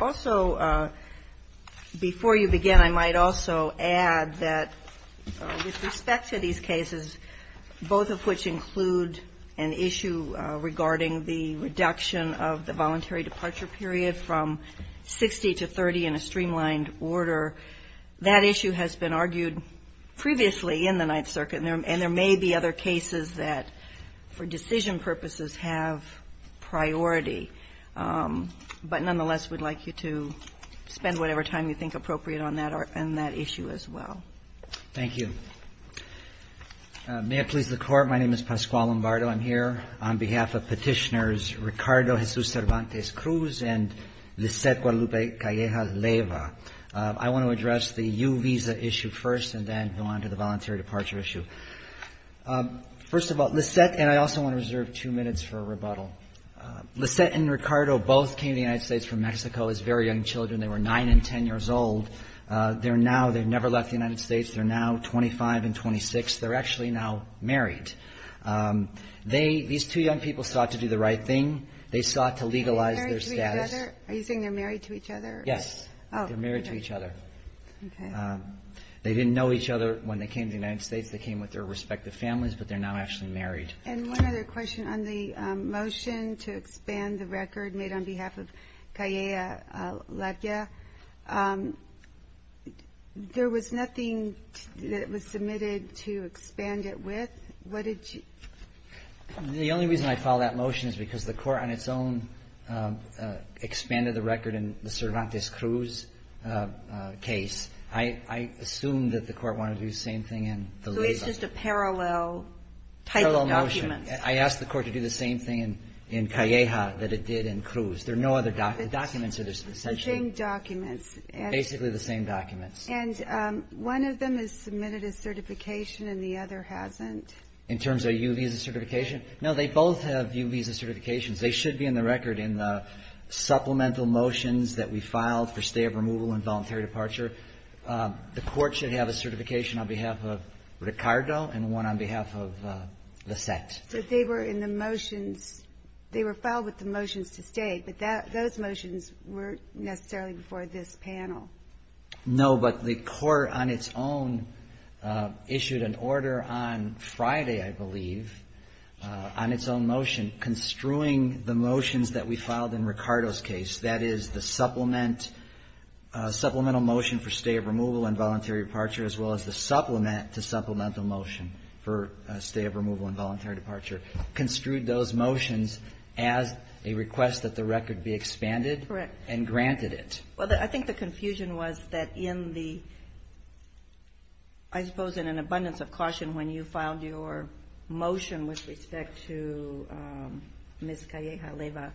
Also, before you begin, I might also add that, with respect to these cases, both of which include an issue regarding the reduction of the voluntary departure period from 60 to 30 in a streamlined order, that issue has been argued previously in the Ninth Circuit, and there may be other cases that, for decision purposes, have priority. But nonetheless, we'd like you to spend whatever time you think appropriate on that issue as well. PASQUALE LOMBARDO Thank you. May it please the Court, my name is Pasquale Lombardo. I'm here on behalf of Petitioners Ricardo Jesus Cervantes-Cruz and Lisette Guadalupe Calleja-Leyva. I want to address the U visa issue first and then go on to the voluntary departure issue. First of all, Lisette and I also want to reserve two minutes for a rebuttal. Lisette and Ricardo both came to the United States from Mexico as very young children. They were 9 and 10 years old. They're now they've never left the United States. They're now 25 and 26. They're actually now married. They, these two young people, sought to do the right thing. They sought to legalize their status. MS. GUADALUPE CALLEJA-LEYVA Are you saying they're married to each other? PASQUALE LOMBARDO Yes. MS. GUADALUPE CALLEJA-LEYVA Oh. MS. GUADALUPE CALLEJA-LEYVA Okay. PASQUALE LOMBARDO They came to the United States. They came with their respective families, but they're now actually married. MS. GUADALUPE CALLEJA-LEYVA And one other question. On the motion to expand the record made on behalf of Calleja-Leyva, there was nothing that was submitted to expand it with. What did you? PASQUALE LOMBARDO The only reason I filed that motion is because the court on its own expanded the record in the Cervantes-Cruz case. I assumed that the court wanted to do the same thing in the Leyva. MS. GUADALUPE CALLEJA-LEYVA So it's just a parallel type of motion. PASQUALE LOMBARDO Parallel motion. I asked the court to do the same thing in Calleja that it did in Cruz. There are no other documents. The documents are essentially MS. GUADALUPE CALLEJA-LEYVA The same documents. PASQUALE LOMBARDO Basically the same documents. MS. GUADALUPE CALLEJA-LEYVA And one of them is submitted as certification and the other hasn't. PASQUALE LOMBARDO In terms of U Visa certification? No, they both have U Visa certifications. They should be in the record in the supplemental motions that we filed for stay of removal and voluntary departure. The court should have a certification on behalf of Ricardo and one on behalf of Lissette. MS. GUADALUPE CALLEJA-LEYVA But they were in the motions. They were filed with the motions to stay, but those motions weren't necessarily before this panel. PASQUALE LOMBARDO No, but the court on its own issued an order on Friday, I believe, on its own motion construing the motions that we filed in Ricardo's case. That is the supplemental motion for stay of removal and voluntary departure as well as the supplement to supplemental motion for stay of removal and voluntary departure. Construed those motions as a request that the record be expanded and granted it. MS. GUADALUPE CALLEJA-LEYVA Well, I think the confusion was that in the, I suppose in an abundance of caution when you filed your motion with respect to Ms. Calleja-Leyva,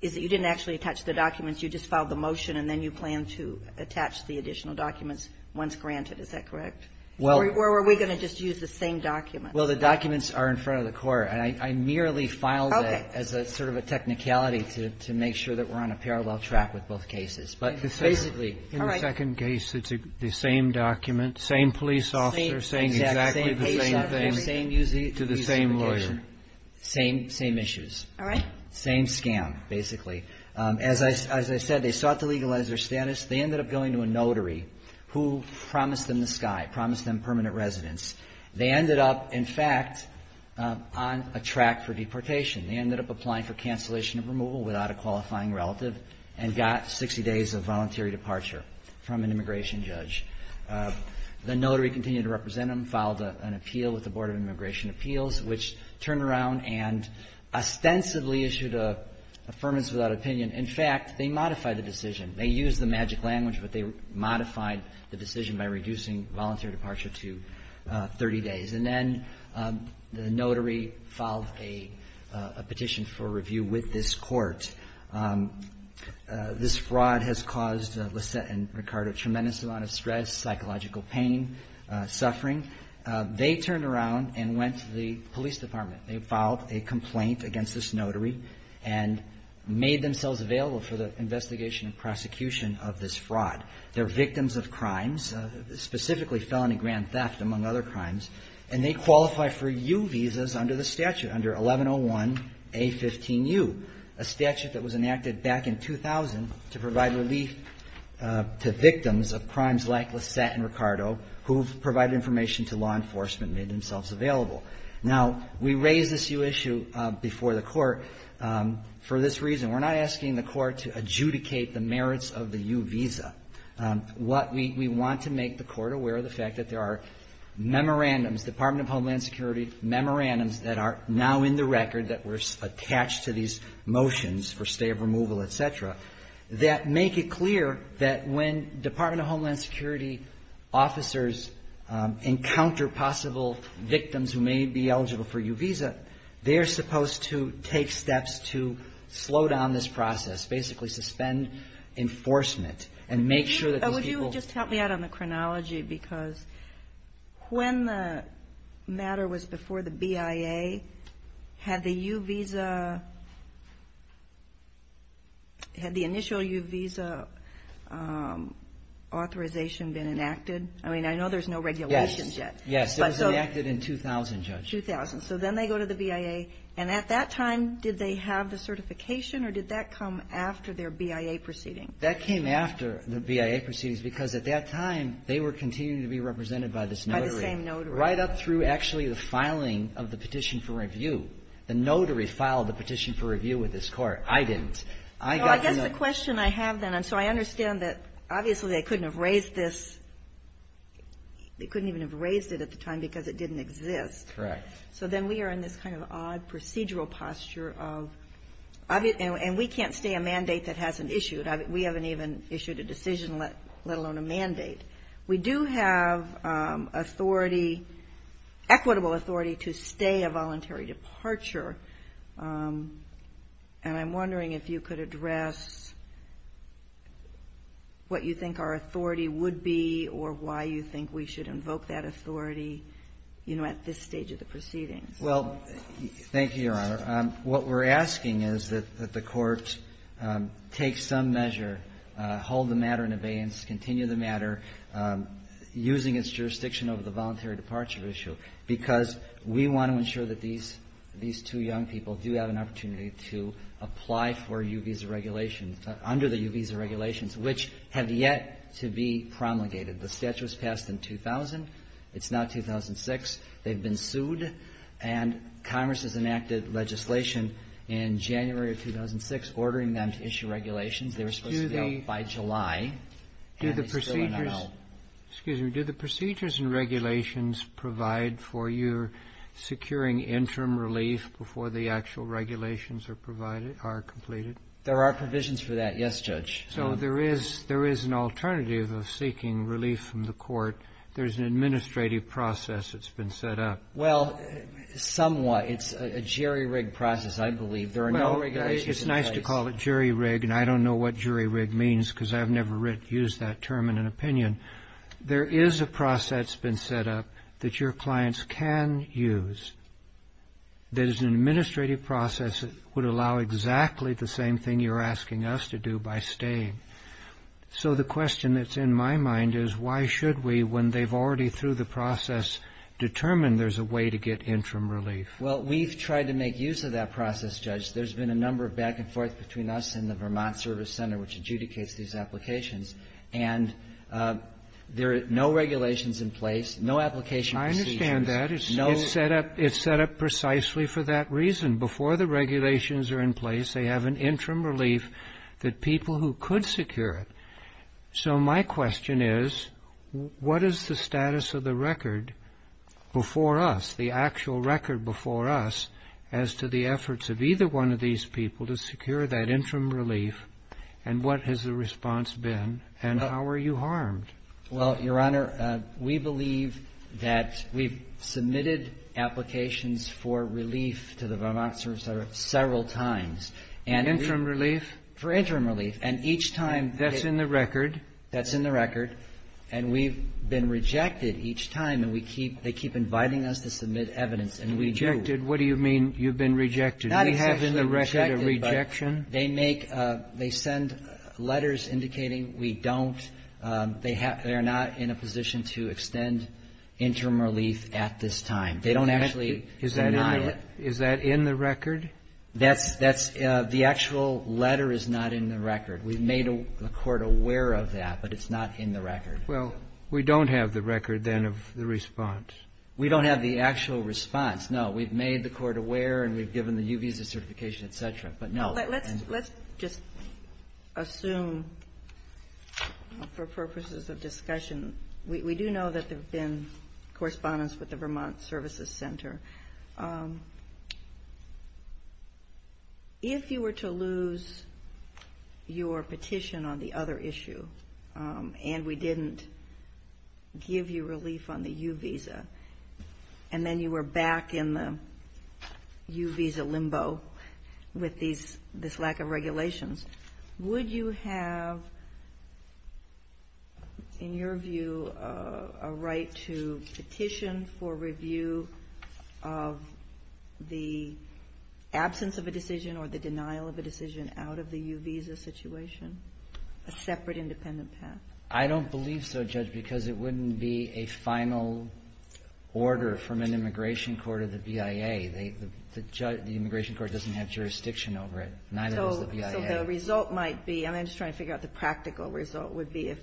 is that you didn't actually attach the documents. You just filed the motion and then you plan to attach the additional documents once granted. Is that correct? PASQUALE LOMBARDO Well MS. GUADALUPE CALLEJA-LEYVA Or were we going to just use the same document? PASQUALE LOMBARDO Well, the documents are in front of the court. And I merely filed it as a sort of a technicality to make sure that we're on a parallel track with both cases. But basically MS. GUADALUPE CALLEJA-LEYVA All right. MR. KREBS In the second case, it's the same document, same police officer saying exactly the same thing to the same lawyer. Same issues. MR. KREBS Same scam, basically. As I said, they sought to legalize their status. They ended up going to a notary who promised them the sky, promised them permanent residence. They ended up, in fact, on a track for deportation. They ended up applying for cancellation of removal without a qualifying relative and got 60 days of voluntary departure from an immigration judge. The notary continued to represent them, filed an appeal with the Board of Immigration Appeals, which turned around and ostensibly issued a firmness without opinion. In fact, they modified the decision. They used the magic language, but they modified the decision by reducing voluntary departure to 30 days. And then the notary filed a petition for review with this court. This fraud has caused Lisette and Ricardo a tremendous amount of stress, psychological pain, suffering. They turned around and went to the police department. They filed a complaint against this notary and made themselves available for the investigation and prosecution of this fraud. They're victims of crimes, specifically felony grand theft, among other crimes, and they qualify for U visas under the statute, under 1101A15U, a statute that was enacted back in 2000 to provide relief to victims of crimes like Lisette and Ricardo who provided information to law enforcement and made themselves available. Now, we raise this U issue before the Court for this reason. We're not asking the Court to adjudicate the merits of the U visa. What we want to make the Court aware of the fact that there are memorandums, Department of Homeland Security memorandums that are now in the record that were attached to these motions for stay of removal, et cetera, that make it clear that when Department of Homeland Security officers encounter possible victims who may be eligible for U visa, they're supposed to take steps to slow down this process, basically suspend enforcement and make sure that these people Would you just help me out on the chronology? Because when the matter was before the BIA, had the U visa, had the initial U visa authorization been enacted? I mean, I know there's no regulations yet. Yes. It was enacted in 2000, Judge. 2000. So then they go to the BIA, and at that time, did they have the certification or did that come after their BIA proceedings? That came after the BIA proceedings because at that time, they were continuing to be represented by this notary. By the same notary. Right up through actually the filing of the Petition for Review. The notary filed the Petition for Review with this Court. I didn't. I got the notary. Well, I guess the question I have then, and so I understand that obviously they couldn't have raised this. They couldn't even have raised it at the time because it didn't exist. Correct. So then we are in this kind of odd procedural posture of, and we can't stay a mandate that hasn't issued. We haven't even issued a decision, let alone a mandate. We do have authority, equitable authority to stay a voluntary departure, and I'm wondering if you could address what you think our authority would be or why you think we should invoke that authority, you know, at this stage of the proceedings. Well, thank you, Your Honor. What we're asking is that the Court take some measure, hold the matter in abeyance, continue the matter, using its jurisdiction over the voluntary departure issue, because we want to ensure that these two young people do have an opportunity to apply for U Visa regulations, under the U Visa regulations, which have yet to be promulgated. The statute was passed in 2000. It's now 2006. They've been sued, and Congress has enacted legislation in January of 2006 ordering them to issue regulations. They were supposed to be out by July, and they still are not out. Excuse me. Do the procedures and regulations provide for your securing interim relief before the actual regulations are provided, are completed? There are provisions for that, yes, Judge. So there is an alternative of seeking relief from the Court. There's an administrative process that's been set up. Well, somewhat. It's a jerry-rigged process, I believe. There are no regulations in place. I call it jerry-rigged, and I don't know what jerry-rigged means, because I've never used that term in an opinion. There is a process that's been set up that your clients can use. There's an administrative process that would allow exactly the same thing you're asking us to do by staying. So the question that's in my mind is, why should we, when they've already through the process, determine there's a way to get interim relief? Well, we've tried to make use of that process, Judge. There's been a number of back and forth between us and the Vermont Service Center, which adjudicates these applications. And there are no regulations in place, no application procedures. I understand that. It's set up precisely for that reason. Before the regulations are in place, they have an interim relief that people who could secure it. So my question is, what is the status of the record before us, the actual record before us, as to the efforts of either one of these people to secure that interim relief, and what has the response been, and how are you harmed? Well, Your Honor, we believe that we've submitted applications for relief to the Vermont Service Center several times. For interim relief? For interim relief. That's in the record. That's in the record. And we've been rejected each time, and they keep inviting us to submit evidence, and we do. Rejected? What do you mean you've been rejected? Not exactly rejected. Do we have in the record a rejection? They make – they send letters indicating we don't – they are not in a position to extend interim relief at this time. They don't actually deny it. Is that in the record? That's – the actual letter is not in the record. We've made the Court aware of that, but it's not in the record. Well, we don't have the record, then, of the response. We don't have the actual response, no. We've made the Court aware, and we've given the U visa certification, et cetera, but no. Let's just assume, for purposes of discussion, we do know that there have been correspondence with the Vermont Services Center. If you were to lose your petition on the other issue, and we didn't give you relief on the U visa, and then you were back in the U visa limbo with this lack of regulations, would you have, in your view, a right to petition for review of the absence of a decision or the denial of a decision out of the U visa situation, a separate independent path? I don't believe so, Judge, because it wouldn't be a final order from an immigration court or the BIA. The immigration court doesn't have jurisdiction over it, neither does the BIA. So the result might be – I'm just trying to figure out the practical result would be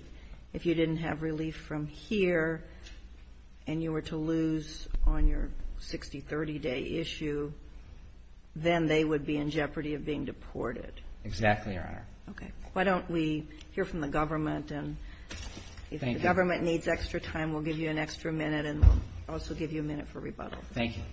if you didn't have relief from here and you were to lose on your 60-30-day issue, then they would be in jeopardy of being deported. Exactly, Your Honor. Okay. Why don't we hear from the government, and if the government needs extra time, we'll give you an extra minute, and we'll also give you a minute for rebuttal. Thank you.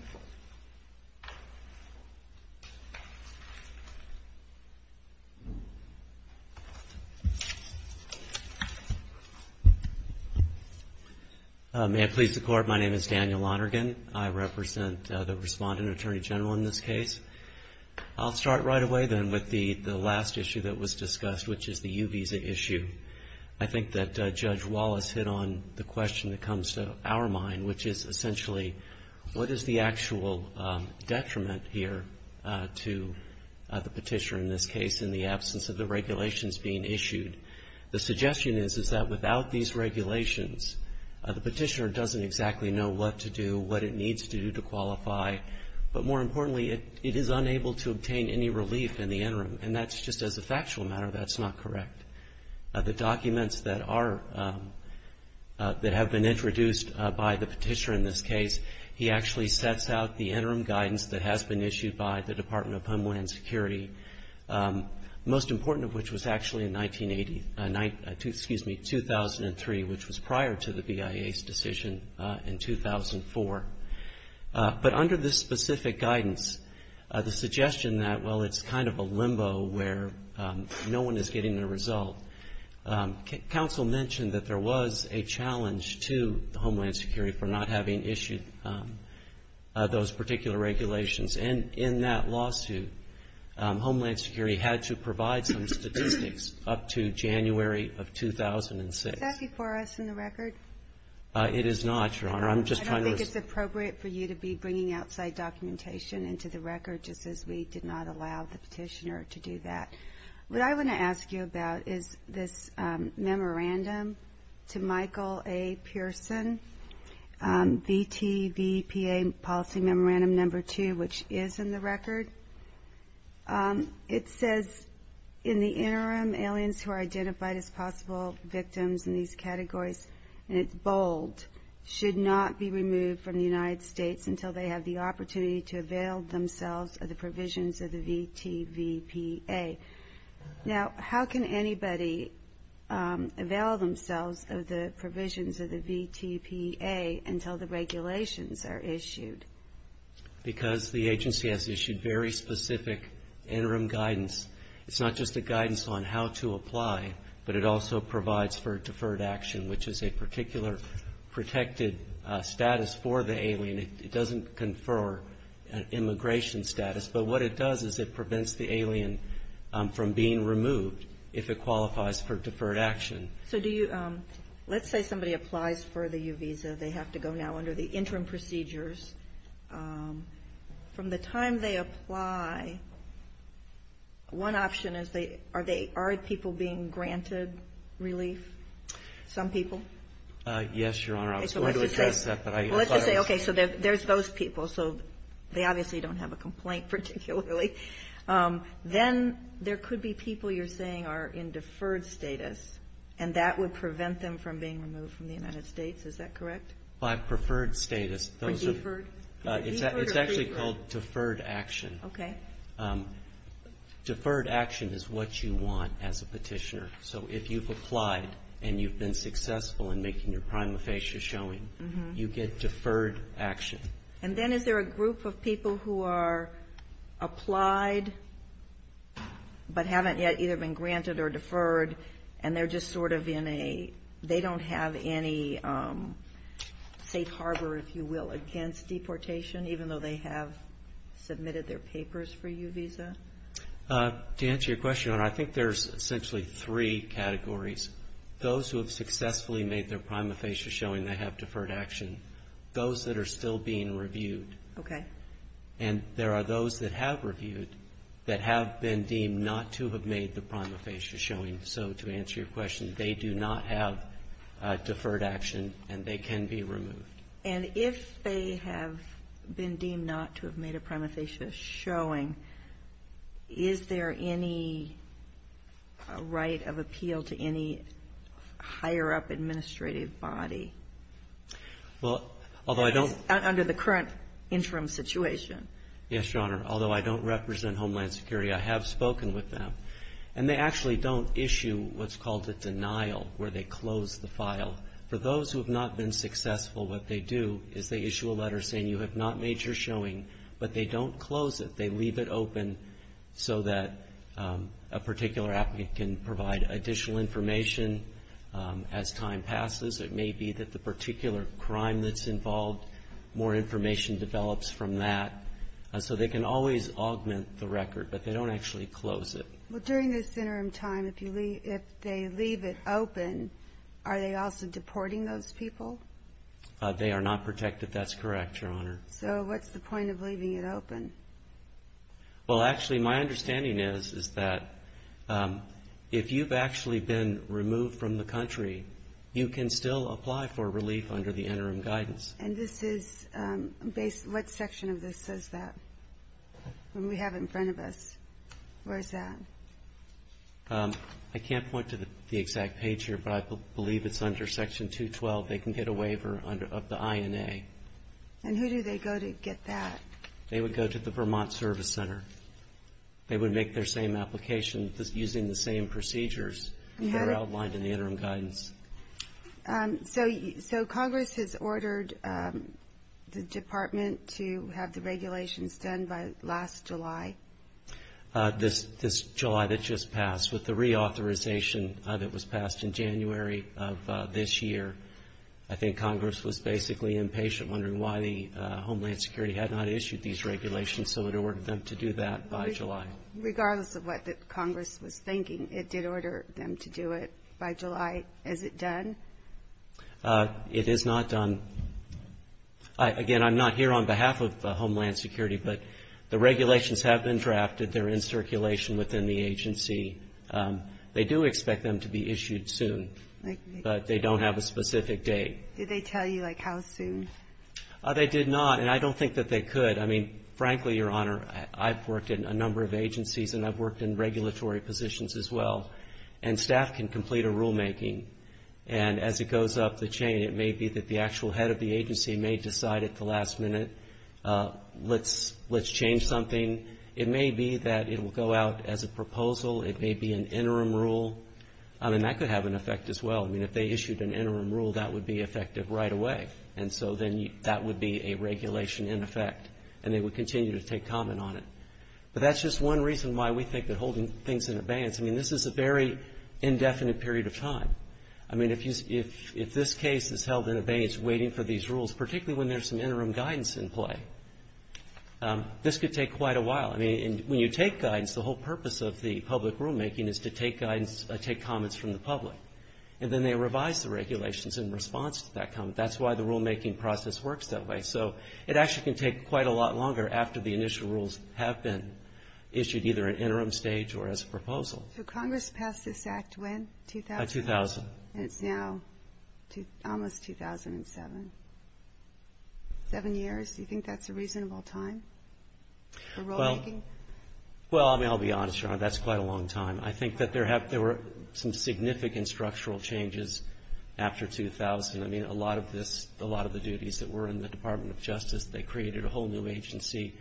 May it please the Court, my name is Daniel Lonergan. I represent the respondent attorney general in this case. I'll start right away then with the last issue that was discussed, which is the U visa issue. I think that Judge Wallace hit on the question that comes to our mind, which is essentially, what is the actual detriment here to the petitioner in this case in the absence of the regulations being issued? The suggestion is that without these regulations, the petitioner doesn't exactly know what to do, what it needs to do to qualify, but more importantly, it is unable to obtain any relief in the interim, and that's just as a factual matter, that's not correct. The documents that have been introduced by the petitioner in this case, he actually sets out the interim guidance that has been issued by the Department of Homeland Security, most important of which was actually in 1980, excuse me, 2003, which was prior to the BIA's decision in 2004. But under this specific guidance, the suggestion that, well, it's kind of a limbo where no one is getting a result, counsel mentioned that there was a challenge to Homeland Security for not having issued those particular regulations, and in that lawsuit, Homeland Security had to provide some statistics up to January of 2006. Is that before us in the record? It is not, Your Honor. I don't think it's appropriate for you to be bringing outside documentation into the record, just as we did not allow the petitioner to do that. What I want to ask you about is this memorandum to Michael A. Pearson, VTVPA Policy Memorandum No. 2, which is in the record. It says, in the interim, aliens who are identified as possible victims in these categories, and it's bold, should not be removed from the United States until they have the opportunity to avail themselves of the provisions of the VTVPA. Now, how can anybody avail themselves of the provisions of the VTVPA until the regulations are issued? Because the agency has issued very specific interim guidance. It's not just a guidance on how to apply, but it also provides for deferred action, which is a particular protected status for the alien. It doesn't confer an immigration status, but what it does is it prevents the alien from being removed if it qualifies for deferred action. So do you, let's say somebody applies for the U visa. They have to go now under the interim procedures. From the time they apply, one option is, are people being granted relief? Some people? Yes, Your Honor. I was going to address that, but I apologize. I was going to say, okay, so there's those people. So they obviously don't have a complaint particularly. Then there could be people you're saying are in deferred status, and that would prevent them from being removed from the United States. Is that correct? By preferred status. Or deferred? It's actually called deferred action. Okay. Deferred action is what you want as a petitioner. So if you've applied and you've been successful in making your prima facie showing, you get deferred action. And then is there a group of people who are applied but haven't yet either been granted or deferred, and they're just sort of in a, they don't have any safe harbor, if you will, against deportation, even though they have submitted their papers for U visa? To answer your question, Your Honor, I think there's essentially three categories. Those who have successfully made their prima facie showing, they have deferred action. Those that are still being reviewed. Okay. And there are those that have reviewed that have been deemed not to have made their prima facie showing. So to answer your question, they do not have deferred action, and they can be removed. And if they have been deemed not to have made a prima facie showing, is there any right of appeal to any higher-up administrative body? Well, although I don't. Under the current interim situation. Yes, Your Honor. Although I don't represent Homeland Security, I have spoken with them. And they actually don't issue what's called a denial, where they close the file. For those who have not been successful, what they do is they issue a letter saying, you have not made your showing, but they don't close it. They leave it open so that a particular applicant can provide additional information as time passes. It may be that the particular crime that's involved, more information develops from that. So they can always augment the record, but they don't actually close it. Well, during this interim time, if they leave it open, are they also deporting those people? They are not protected. That's correct, Your Honor. So what's the point of leaving it open? Well, actually, my understanding is that if you've actually been removed from the country, you can still apply for relief under the interim guidance. And this is based what section of this says that? We have it in front of us. Where is that? I can't point to the exact page here, but I believe it's under section 212. They can get a waiver of the INA. And who do they go to get that? They would go to the Vermont Service Center. They would make their same application using the same procedures that are outlined in the interim guidance. So Congress has ordered the department to have the regulations done by last July. This July that just passed, with the reauthorization that was passed in January of this year, I think Congress was basically impatient, wondering why the Homeland Security had not issued these regulations, so it ordered them to do that by July. Regardless of what Congress was thinking, it did order them to do it by July. Is it done? It is not done. Again, I'm not here on behalf of Homeland Security, but the regulations have been drafted. They're in circulation within the agency. They do expect them to be issued soon, but they don't have a specific date. Did they tell you, like, how soon? They did not, and I don't think that they could. I mean, frankly, Your Honor, I've worked in a number of agencies, and I've worked in regulatory positions as well, and staff can complete a rulemaking. And as it goes up the chain, it may be that the actual head of the agency may decide at the last minute, let's change something. It may be that it will go out as a proposal. It may be an interim rule. I mean, that could have an effect as well. I mean, if they issued an interim rule, that would be effective right away. And so then that would be a regulation in effect, and they would continue to take comment on it. But that's just one reason why we think that holding things in abeyance. I mean, this is a very indefinite period of time. I mean, if this case is held in abeyance, waiting for these rules, particularly when there's some interim guidance in play, this could take quite a while. I mean, when you take guidance, the whole purpose of the public rulemaking is to take guidance, take comments from the public, and then they revise the regulations in response to that comment. That's why the rulemaking process works that way. So it actually can take quite a lot longer after the initial rules have been issued, either an interim stage or as a proposal. So Congress passed this act when, 2000? 2000. And it's now almost 2007. Seven years, do you think that's a reasonable time for rulemaking? Well, I mean, I'll be honest, Your Honor, that's quite a long time. I think that there were some significant structural changes after 2000. I mean, a lot of the duties that were in the Department of Justice, they created a whole new agency.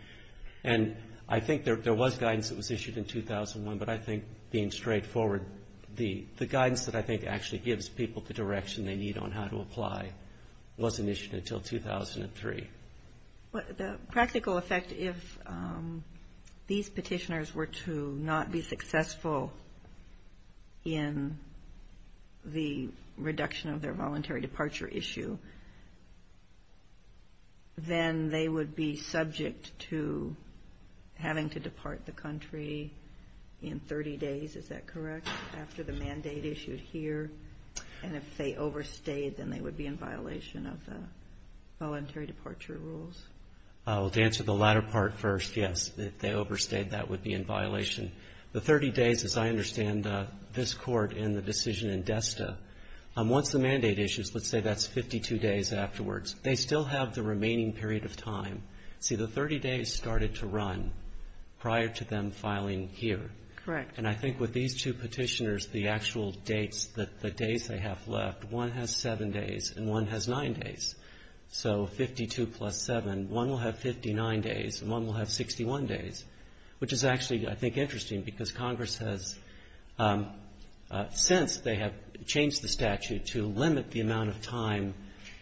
And I think there was guidance that was issued in 2001, but I think being straightforward, the guidance that I think actually gives people the direction they need on how to apply wasn't issued until 2003. The practical effect, if these petitioners were to not be successful in the reduction of their voluntary departure issue, then they would be subject to having to depart the country in 30 days, is that correct, after the mandate issued here? And if they overstayed, then they would be in violation of the voluntary departure rules? Well, to answer the latter part first, yes, if they overstayed, that would be in violation. The 30 days, as I understand this Court in the decision in DESTA, once the mandate issues, let's say that's 52 days afterwards, they still have the remaining period of time. See, the 30 days started to run prior to them filing here. Correct. And I think with these two petitioners, the actual dates, the days they have left, one has 7 days and one has 9 days. So 52 plus 7, one will have 59 days and one will have 61 days, which is actually I think interesting because Congress has since they have changed the statute to limit the amount of time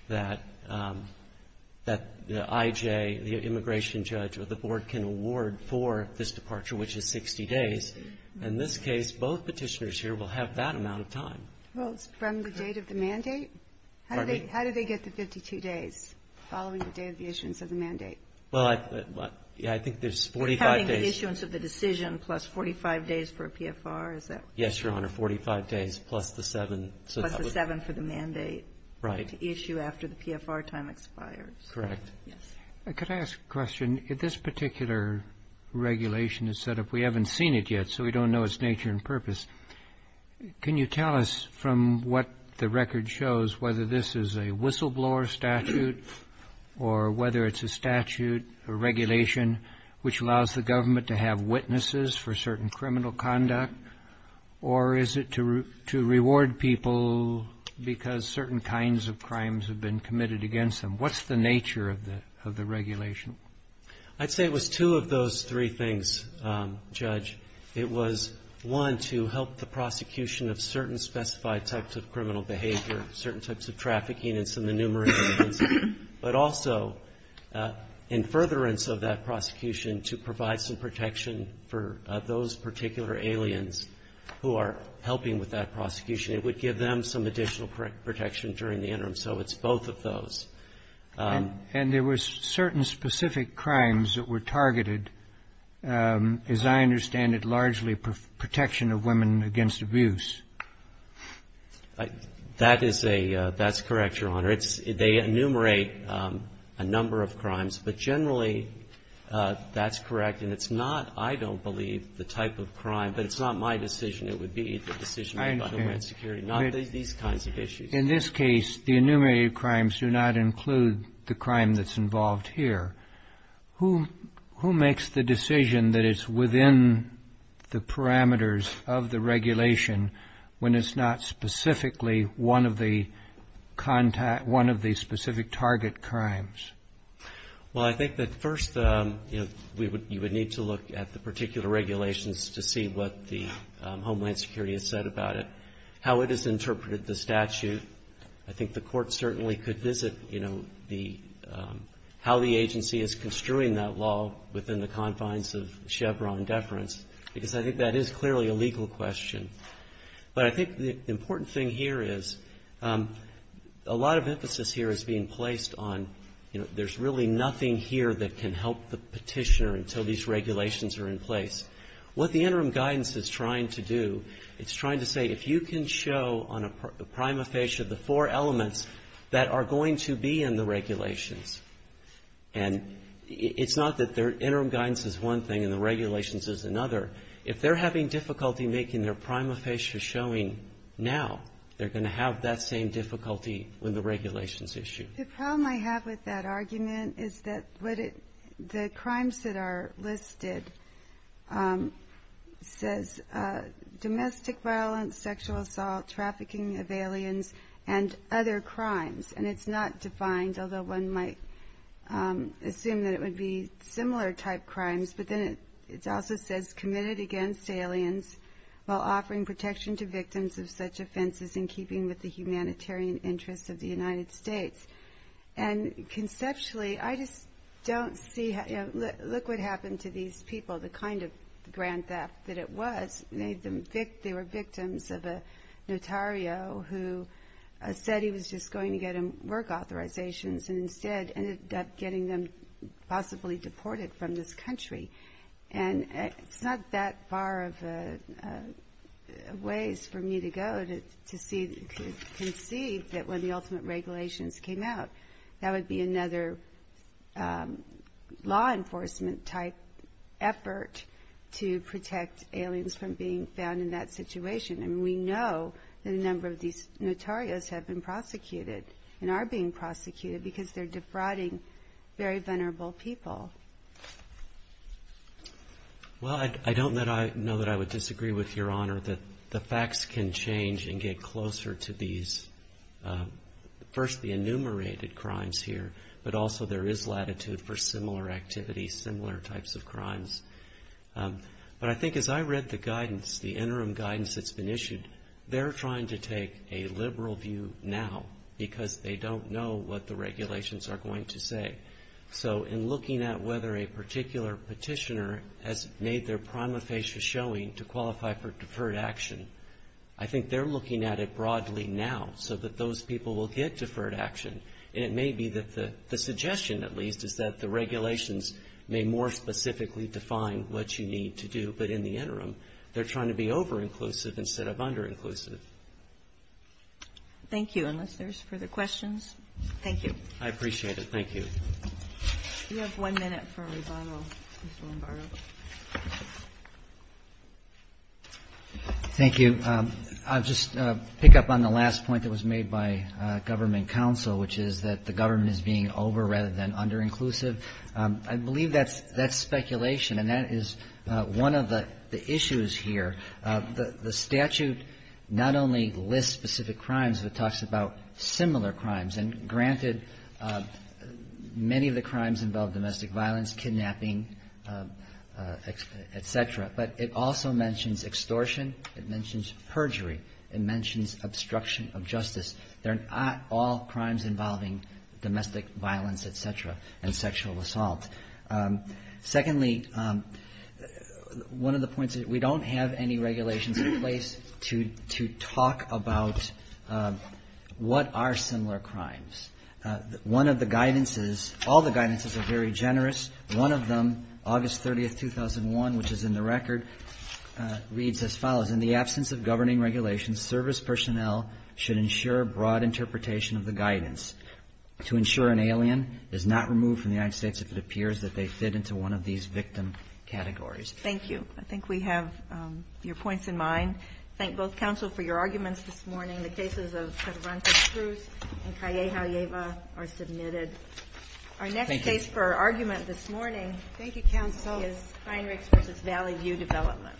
that the IJ, the immigration judge or the board can award for this departure, which is 60 days. In this case, both petitioners here will have that amount of time. Well, it's from the date of the mandate? Pardon me? How do they get the 52 days following the day of the issuance of the mandate? Well, I think there's 45 days. You're counting the issuance of the decision plus 45 days for a PFR, is that right? Yes, Your Honor, 45 days plus the 7. Plus the 7 for the mandate. Right. To issue after the PFR time expires. Correct. Could I ask a question? If this particular regulation is set up, we haven't seen it yet, so we don't know its nature and purpose. Can you tell us from what the record shows whether this is a whistleblower statute or whether it's a statute or regulation which allows the government to have witnesses for certain criminal conduct or is it to reward people because certain kinds of crimes have been committed against them? What's the nature of the regulation? I'd say it was two of those three things, Judge. It was, one, to help the prosecution of certain specified types of criminal behavior, certain types of trafficking and some enumerated offenses, but also in furtherance of that prosecution to provide some protection for those particular aliens who are helping with that prosecution. It would give them some additional protection during the interim. So it's both of those. And there were certain specific crimes that were targeted, as I understand it, largely protection of women against abuse. That is a — that's correct, Your Honor. They enumerate a number of crimes, but generally that's correct. And it's not, I don't believe, the type of crime, but it's not my decision. It would be the decision of Homeland Security. I understand. Not these kinds of issues. In this case, the enumerated crimes do not include the crime that's involved here. Who makes the decision that it's within the parameters of the regulation when it's not specifically one of the specific target crimes? Well, I think that first you would need to look at the particular regulations to see what the Homeland Security has said about it, how it has interpreted the statute. I think the court certainly could visit, you know, how the agency is construing that law within the confines of Chevron deference, because I think that is clearly a legal question. But I think the important thing here is a lot of emphasis here is being placed on, you know, there's really nothing here that can help the petitioner until these regulations are in place. What the interim guidance is trying to do, it's trying to say, if you can show on a prima facie the four elements that are going to be in the regulations, and it's not that their interim guidance is one thing and the regulations is another. If they're having difficulty making their prima facie showing now, they're going to have that same difficulty with the regulations issue. The problem I have with that argument is that the crimes that are listed says domestic violence, sexual assault, trafficking of aliens, and other crimes. And it's not defined, although one might assume that it would be similar type crimes. But then it also says committed against aliens while offering protection to victims of such offenses in keeping with the humanitarian interests of the United States. And conceptually, I just don't see, you know, look what happened to these people, the kind of grand theft that it was. They were victims of a notario who said he was just going to get him work authorizations and instead ended up getting them possibly deported from this country. And it's not that far of a ways for me to go to conceive that when the ultimate regulations came out, that would be another law enforcement type effort to protect aliens from being found in that situation. And we know that a number of these notarios have been prosecuted and are being prosecuted because they're defrauding very venerable people. Well, I don't know that I would disagree with Your Honor that the facts can change and get closer to these, first the enumerated crimes here, but also there is latitude for similar activities, similar types of crimes. But I think as I read the guidance, the interim guidance that's been issued, they're trying to take a liberal view now because they don't know what the regulations are going to say. So in looking at whether a particular petitioner has made their prima facie showing to qualify for deferred action, I think they're looking at it broadly now so that those people will get deferred action. And it may be that the suggestion at least is that the regulations may more specifically define what you need to do. But in the interim, they're trying to be over-inclusive instead of under-inclusive. Thank you. Unless there's further questions. Thank you. I appreciate it. You have one minute for rebuttal, Mr. Lombardo. Thank you. I'll just pick up on the last point that was made by government counsel, which is that the government is being over rather than under-inclusive. I believe that's speculation, and that is one of the issues here. The statute not only lists specific crimes, but it talks about similar crimes. And granted, many of the crimes involve domestic violence, kidnapping, et cetera. But it also mentions extortion. It mentions perjury. It mentions obstruction of justice. They're not all crimes involving domestic violence, et cetera, and sexual assault. Secondly, one of the points is we don't have any regulations in place to talk about what are similar crimes. One of the guidances, all the guidances are very generous. One of them, August 30, 2001, which is in the record, reads as follows. In the absence of governing regulations, service personnel should ensure broad interpretation of the guidance. To ensure an alien is not removed from the United States if it appears that they fit into one of these victim categories. Thank you. I think we have your points in mind. Thank both counsel for your arguments this morning. The cases of Cervantes-Cruz and Calleja-Lleva are submitted. Our next case for argument this morning is Heinrichs v. Valley View Development.